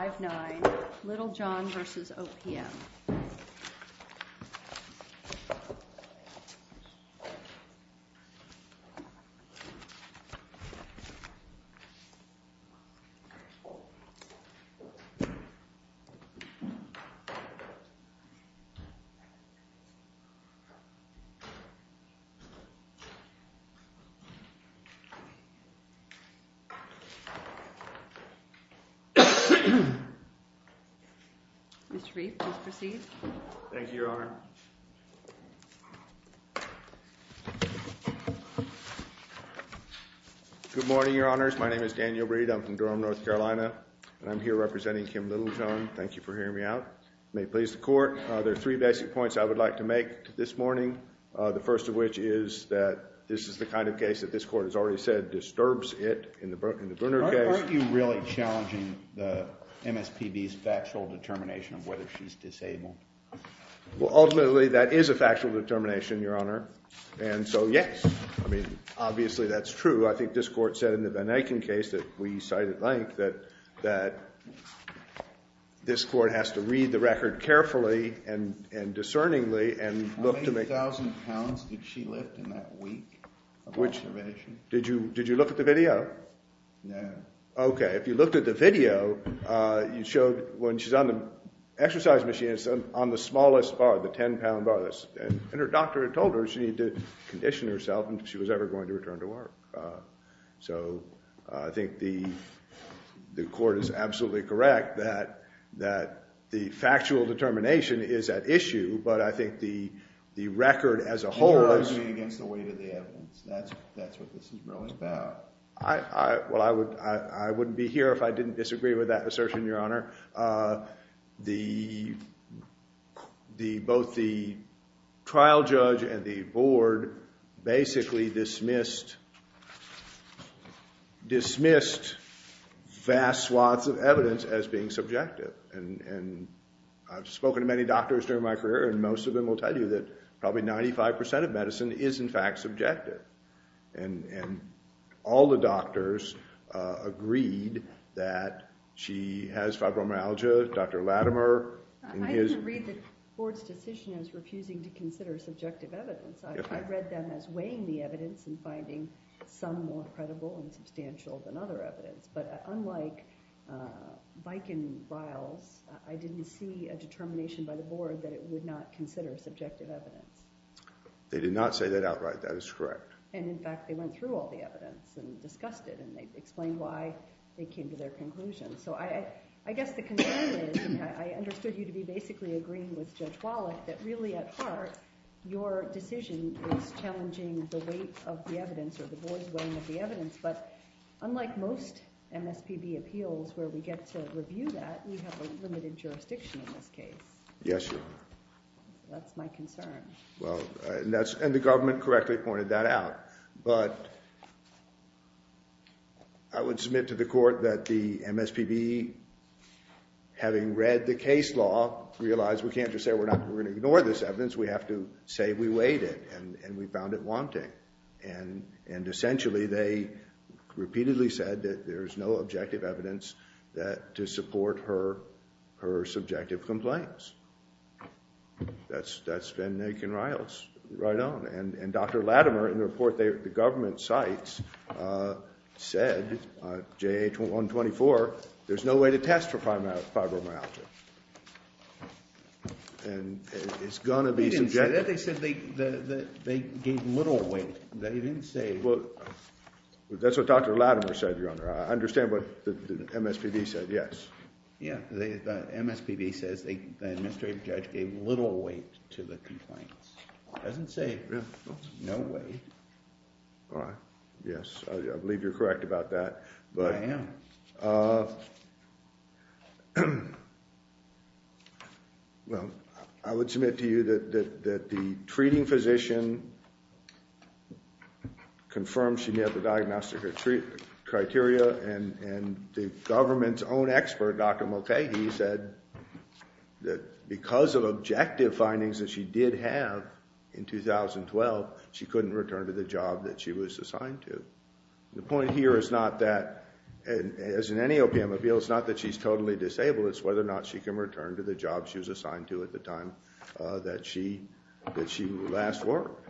5-9 Littlejohn v. OPM Mr. Reed, please proceed. Thank you, Your Honor. Good morning, Your Honors. My name is Daniel Reed. I'm from Durham, North Carolina. And I'm here representing Kim Littlejohn. Thank you for hearing me out. It may please the Court. There are three basic points I would like to make this morning. The first of which is that this is the kind of case that this Court has already said disturbs it in the Brunner case. Weren't you really challenging the MSPB's factual determination of whether she's disabled? Well, ultimately, that is a factual determination, Your Honor. And so, yes. I mean, obviously that's true. I think this Court said in the Van Eiken case that we cite at length that this Court has to read the record carefully and discerningly and look to make— How many thousand pounds did she lift in that week of observation? Did you look at the video? No. Okay. If you looked at the video, you showed when she's on the exercise machine, it's on the smallest bar, the 10-pound bar. And her doctor had told her she needed to condition herself and if she was ever going to return to work. So I think the Court is absolutely correct that the factual determination is at issue, but I think the record as a whole— You're arguing against the weight of the evidence. That's what this is really about. Well, I wouldn't be here if I didn't disagree with that assertion, Your Honor. Both the trial judge and the board basically dismissed vast swaths of evidence as being subjective. And I've spoken to many doctors during my career and most of them will tell you that probably 95% of medicine is in fact subjective. And all the doctors agreed that she has fibromyalgia. Dr. Latimer— I didn't read the board's decision as refusing to consider subjective evidence. I read them as weighing the evidence and finding some more credible and substantial than other evidence. But unlike Viking vials, I didn't see a determination by the board that it would not consider subjective evidence. They did not say that outright. That is correct. And in fact, they went through all the evidence and discussed it and they explained why they came to their conclusion. So I guess the concern is—I understood you to be basically agreeing with Judge Wallach— that really at heart, your decision is challenging the weight of the evidence or the board's weighing of the evidence. But unlike most MSPB appeals where we get to review that, we have a limited jurisdiction in this case. Yes, Your Honor. That's my concern. Well, and the government correctly pointed that out. But I would submit to the court that the MSPB, having read the case law, realized we can't just say we're not going to ignore this evidence. We have to say we weighed it and we found it wanting. And essentially, they repeatedly said that there's no objective evidence to support her subjective complaints. That's been naked and right on. And Dr. Latimer, in the report the government cites, said, J.A. 124, there's no way to test for fibromyalgia. And it's going to be subjective. They said they gave little weight. They didn't say— Well, that's what Dr. Latimer said, Your Honor. I understand what the MSPB said. Yes. Yeah, the MSPB says the administrative judge gave little weight to the complaints. It doesn't say no weight. All right. Yes. I believe you're correct about that. I am. Well, I would submit to you that the treating physician confirmed she met the diagnostic criteria, and the government's own expert, Dr. Mulcahy, said that because of objective findings that she did have in 2012, she couldn't return to the job that she was assigned to. The point here is not that, as in any OPM appeal, it's not that she's totally disabled. It's whether or not she can return to the job she was assigned to at the time that she last worked.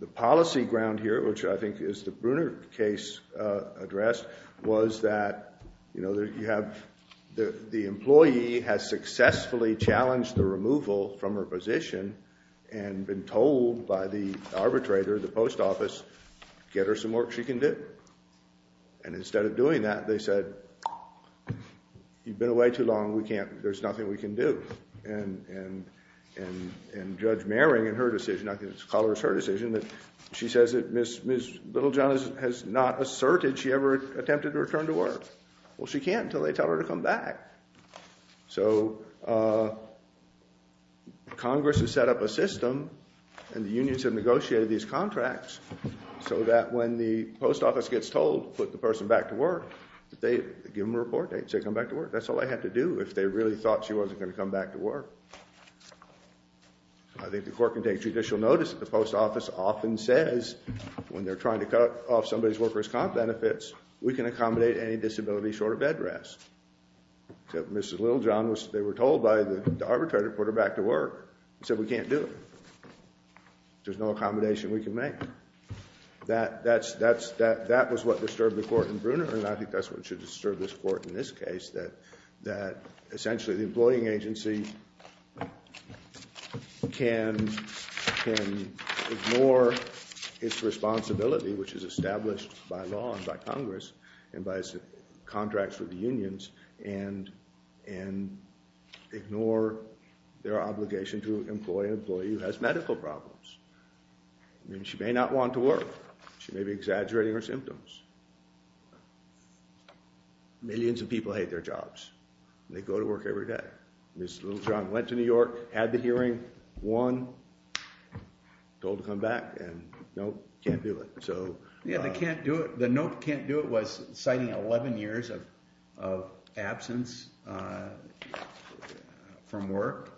The policy ground here, which I think is the Bruner case addressed, was that the employee has successfully challenged the removal from her position and been told by the arbitrator, the post office, get her some work she can do. And instead of doing that, they said, You've been away too long. We can't. There's nothing we can do. And Judge Mehring, in her decision, I think it's colorist her decision, that she says that Ms. Littlejohn has not asserted she ever attempted to return to work. Well, she can't until they tell her to come back. So Congress has set up a system, and the unions have negotiated these contracts, so that when the post office gets told to put the person back to work, they give them a report date, say come back to work. That's all they had to do if they really thought she wasn't going to come back to work. I think the court can take judicial notice that the post office often says when they're trying to cut off somebody's worker's comp benefits, we can accommodate any disability short of bed rest. Except Ms. Littlejohn, they were told by the arbitrator to put her back to work. He said, We can't do it. There's no accommodation we can make. That was what disturbed the court in Brunner, and I think that's what should disturb this court in this case, that essentially the employing agency can ignore its responsibility, which is established by law and by Congress and by its contracts with the unions, and ignore their obligation to employ an employee who has medical problems. She may not want to work. She may be exaggerating her symptoms. Millions of people hate their jobs. They go to work every day. Ms. Littlejohn went to New York, had the hearing, won, told to come back, and nope, can't do it. The nope, can't do it was citing 11 years of absence from work.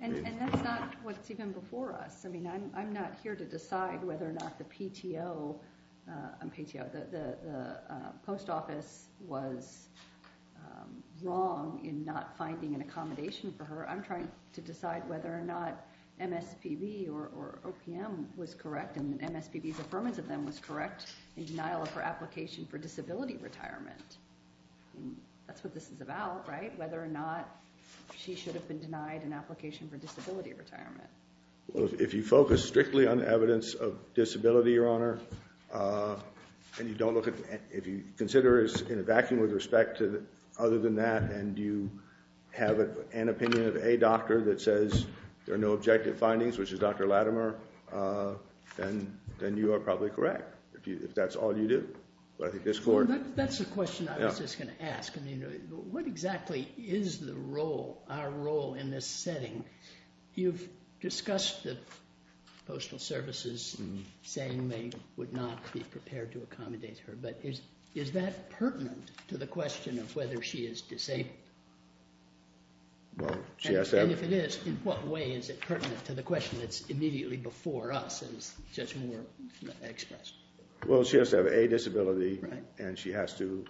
And that's not what's even before us. I'm not here to decide whether or not the post office was wrong or I'm trying to decide whether or not MSPB or OPM was correct and MSPB's affirmance of them was correct in denial of her application for disability retirement. That's what this is about, right? Whether or not she should have been denied an application for disability retirement. Well, if you focus strictly on evidence of disability, Your Honor, and you don't look at, if you consider it's in a vacuum with respect to other than that, and you have an opinion of a doctor that says there are no objective findings, which is Dr. Latimer, then you are probably correct. If that's all you do. That's the question I was just going to ask. What exactly is the role, our role in this setting? You've discussed the Postal Service saying they would not be prepared to accommodate her, but is that pertinent to the question of whether she is disabled? Well, she has to have... And if it is, in what way is it pertinent to the question that's immediately before us and is just more expressed? Well, she has to have a disability and she has to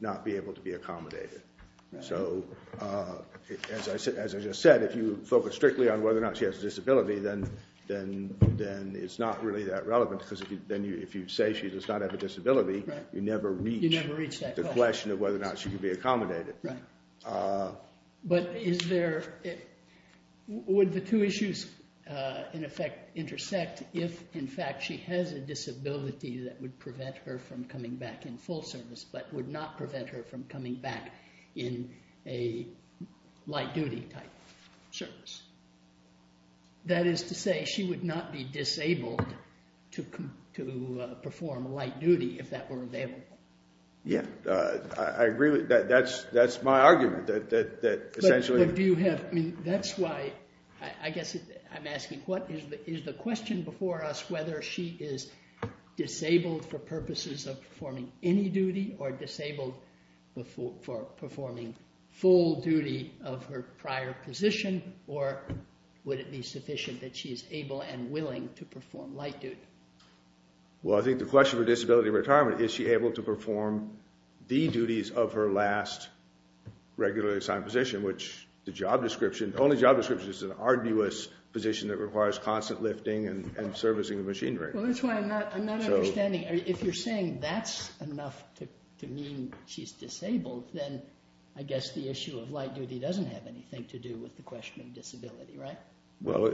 not be able to be accommodated. So, as I just said, if you focus strictly on whether or not she has a disability, then it's not really that relevant because if you say she does not have a disability, you never reach the question of whether or not she can be accommodated. But is there... Would the two issues, in effect, intersect if, in fact, she has a disability that would prevent her from coming back in full service, but would not prevent her from coming back in a light-duty type service? That is to say, she would not be disabled to perform light duty if that were available. Yeah, I agree with that. That's my argument, that essentially... But do you have... I mean, that's why... I guess I'm asking what is the question before us, whether she is disabled for purposes of performing any duty or disabled for performing full duty of her prior position, or would it be sufficient that she is able and willing to perform light duty? Well, I think the question for disability retirement, is she able to perform the duties of her last regularly assigned position, which the job description... The only job description is an arduous position that requires constant lifting and servicing of machinery. Well, that's why I'm not understanding. If you're saying that's enough to mean she's disabled, then I guess the issue of light duty doesn't have anything to do with the question of disability, right? Well,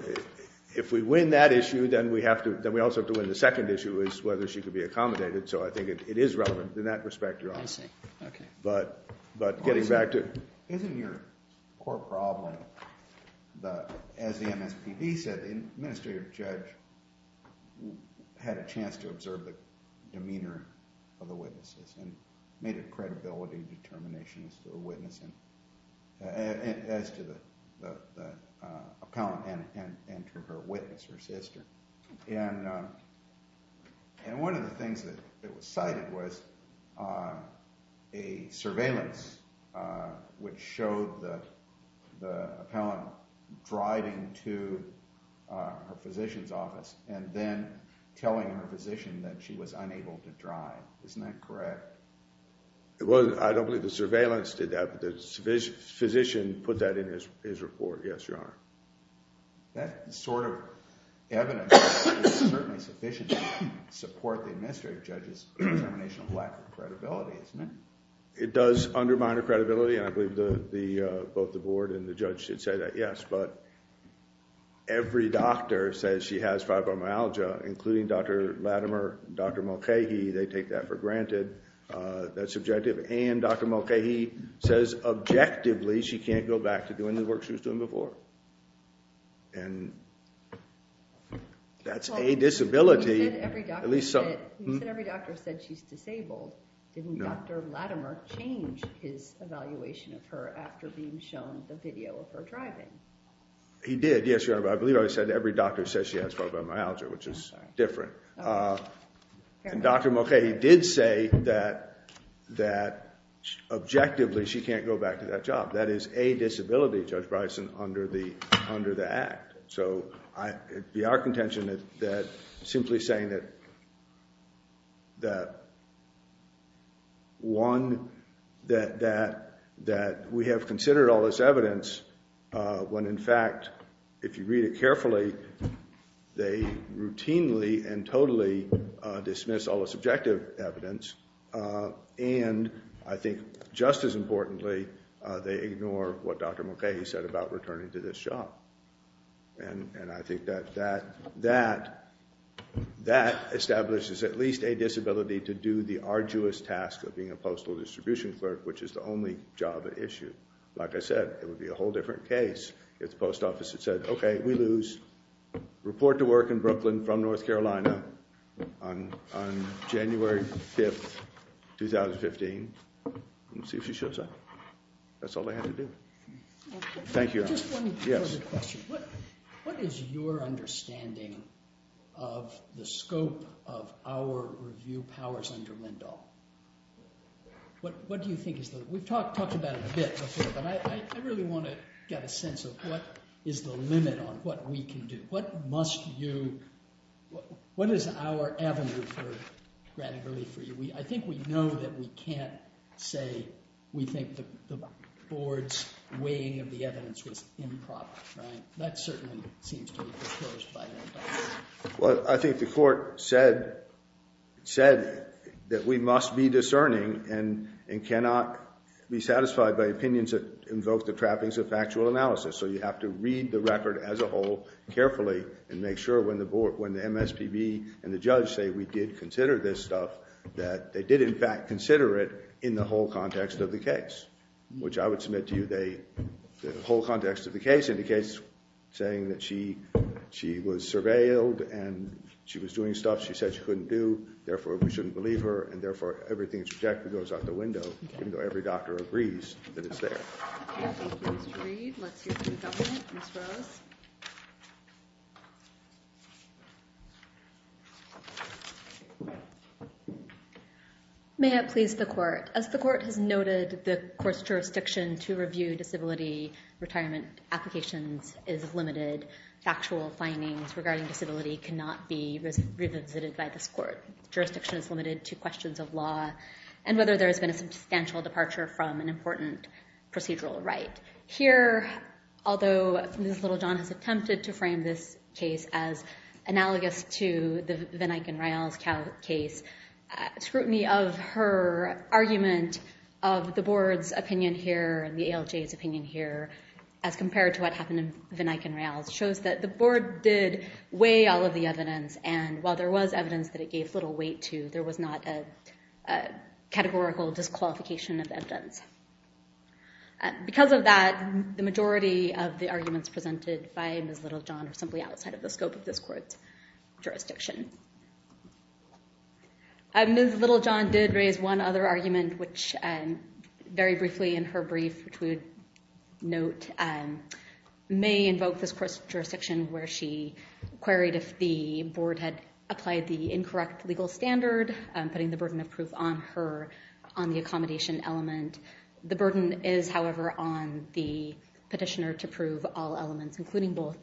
if we win that issue, then we also have to win the second issue, which is whether she could be accommodated. So I think it is relevant in that respect, Your Honor. I see. Okay. But getting back to... Isn't your core problem, as the MSPB said, the administrative judge had a chance to observe the demeanor of the witnesses and made a credibility determination as to the witness... as to the appellant and to her witness, her sister. And one of the things that was cited was a surveillance which showed the appellant driving to her physician's office and then telling her physician that she was unable to drive. Isn't that correct? I don't believe the surveillance did that, but the physician put that in his report. Yes, Your Honor. That sort of evidence is certainly sufficient to support the administrative judge's determination of lack of credibility, isn't it? It does undermine her credibility, and I believe both the board and the judge should say that, yes. But every doctor says she has fibromyalgia, including Dr. Latimer and Dr. Mulcahy. They take that for granted. That's subjective. And Dr. Mulcahy says objectively she can't go back to doing the work she was doing before. And that's a disability. You said every doctor said she's disabled. Didn't Dr. Latimer change his evaluation of her after being shown the video of her driving? He did, yes, Your Honor. But I believe I said every doctor says she has fibromyalgia, which is different. And Dr. Mulcahy did say that objectively she can't go back to that job. That is a disability, Judge Bryson, under the act. So it would be our contention that simply saying that, one, that we have considered all this evidence when, in fact, if you read it carefully, they routinely and totally dismiss all the subjective evidence, and I think just as importantly, they ignore what Dr. Mulcahy said about returning to this job. And I think that that establishes at least a disability to do the arduous task of being a postal distribution clerk, which is the only job at issue. Like I said, it would be a whole different case if the post office had said, okay, we lose, report to work in Brooklyn from North Carolina on January 5th, 2015, and see if she shows up. That's all they had to do. Thank you, Your Honor. Just one further question. What is your understanding of the scope of our review powers under Lindahl? What do you think is the – we've talked about it a bit before, but I really want to get a sense of what is the limit on what we can do. What must you – what is our avenue for granting relief for you? I think we know that we can't say we think the board's weighing of the evidence was improper, right? That certainly seems to be disclosed by the indictment. Well, I think the court said that we must be discerning and cannot be satisfied by opinions that invoke the trappings of factual analysis. So you have to read the record as a whole carefully and make sure when the MSPB and the judge say we did consider this stuff, that they did in fact consider it in the whole context of the case, which I would submit to you the whole context of the case indicates saying that she was surveilled and she was doing stuff she said she couldn't do, therefore, we shouldn't believe her, and therefore, everything that's rejected goes out the window even though every doctor agrees that it's there. May I please read? Let's hear from the defendant, Ms. Rose. May it please the court. As the court has noted, the court's jurisdiction to review disability retirement applications is limited. Factual findings regarding disability cannot be revisited by this court. Jurisdiction is limited to questions of law and whether there has been a substantial departure from an important procedural right. Here, although Ms. Littlejohn has attempted to frame this case as analogous to the van Eyck and Rael's case, scrutiny of her argument of the board's opinion here and the ALJ's opinion here as compared to what happened in van Eyck and Rael's shows that the board did weigh all of the evidence and while there was evidence that it gave little weight to, there was not a categorical disqualification of evidence. Because of that, the majority of the arguments presented by Ms. Littlejohn are simply outside of the scope of this court's jurisdiction. Ms. Littlejohn did raise one other argument, which very briefly in her brief, which we would note may invoke this court's jurisdiction where she queried if the board had applied the incorrect legal standard, putting the burden of proof on her on the accommodation element. The burden is, however, on the petitioner to prove all elements, including both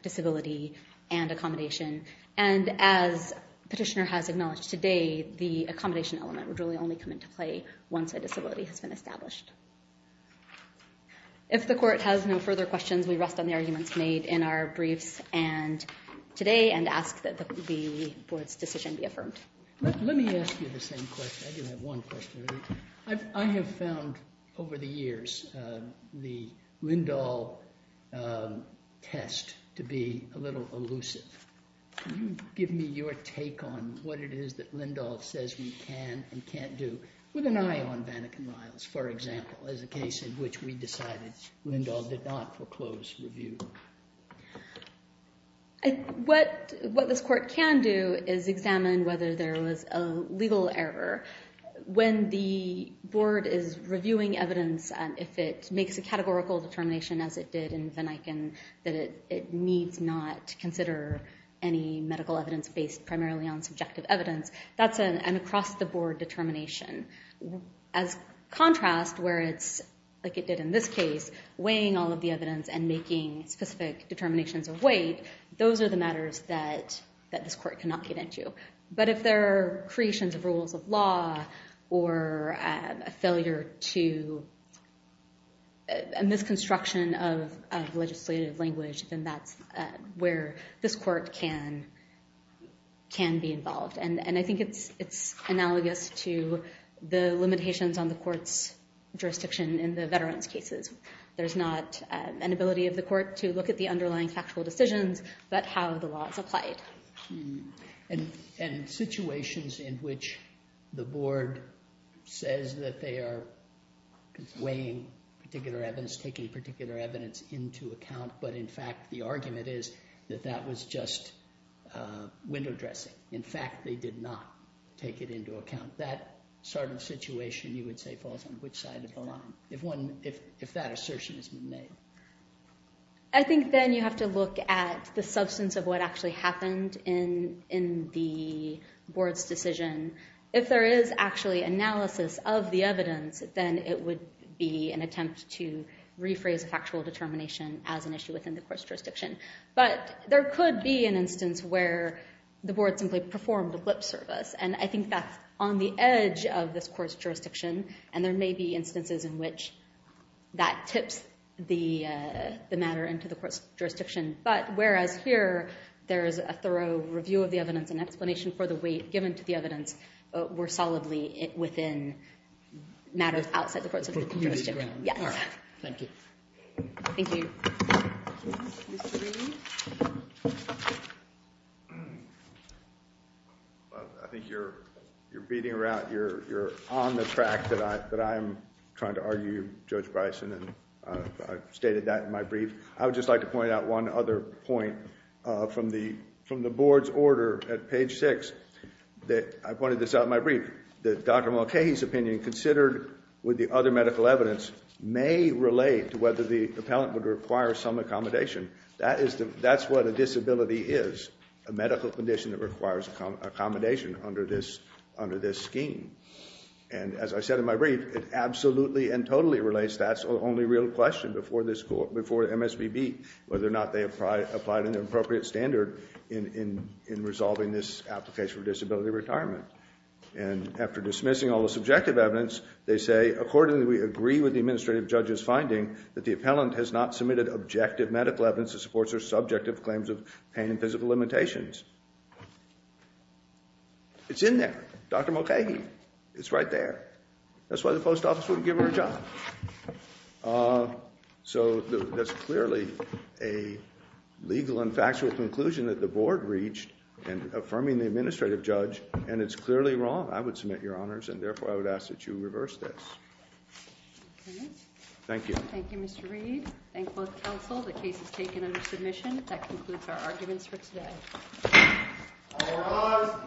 disability and accommodation. And as petitioner has acknowledged today, the accommodation element would really only come into play once a disability has been established. If the court has no further questions, we rest on the arguments made in our briefs today and ask that the board's decision be affirmed. Let me ask you the same question. I do have one question. I have found over the years the Lindahl test to be a little elusive. Can you give me your take on what it is that Lindahl says we can and can't do, with an eye on Vannik and Riles, for example, as a case in which we decided Lindahl did not foreclose review? What this court can do is examine whether there was a legal error. When the board is reviewing evidence, if it makes a categorical determination, as it did in Vannik, that it needs not consider any medical evidence based primarily on subjective evidence, that's an across-the-board determination. As contrast, where it's, like it did in this case, weighing all of the evidence and making specific determinations of weight, those are the matters that this court cannot get into. But if there are creations of rules of law or a failure to, a misconstruction of legislative language, then that's where this court can be involved. And I think it's analogous to the limitations on the court's jurisdiction in the veterans' cases. There's not an ability of the court to look at the underlying factual decisions, but how the law is applied. And situations in which the board says that they are weighing particular evidence, taking particular evidence into account, but in fact the argument is that that was just window dressing. In fact, they did not take it into account. That sort of situation, you would say, falls on which side of the line, if that assertion has been made? I think then you have to look at the substance of what actually happened in the board's decision. If there is actually analysis of the evidence, then it would be an attempt to rephrase a factual determination as an issue within the court's jurisdiction. But there could be an instance where the board simply performed a blip service, and I think that's on the edge of this court's jurisdiction, and there may be instances in which that tips the matter into the court's jurisdiction. But whereas here, there is a thorough review of the evidence and explanation for the weight given to the evidence, we're solidly within matters outside the court's jurisdiction. Yes. Thank you. Thank you. Mr. Green? I think you're beating around—you're on the track that I'm trying to argue, Judge Bryson, and I've stated that in my brief. I would just like to point out one other point from the board's order at page 6. I pointed this out in my brief, that Dr. Mulcahy's opinion, considered with the other medical evidence, may relate to whether the appellant would require some accommodation. That's what a disability is, a medical condition that requires accommodation under this scheme. And as I said in my brief, it absolutely and totally relates. That's the only real question before MSBB, whether or not they applied an appropriate standard in resolving this application for disability retirement. And after dismissing all the subjective evidence, they say, Accordingly, we agree with the administrative judge's finding that the appellant has not submitted objective medical evidence that supports her subjective claims of pain and physical limitations. It's in there. Dr. Mulcahy. It's right there. That's why the post office wouldn't give her a job. So that's clearly a legal and factual conclusion that the board reached in affirming the administrative judge, and it's clearly wrong. I would submit your honors, and therefore I would ask that you reverse this. Thank you. Thank you, Mr. Reed. Thank both counsel. The case is taken under submission. That concludes our arguments for today. All rise.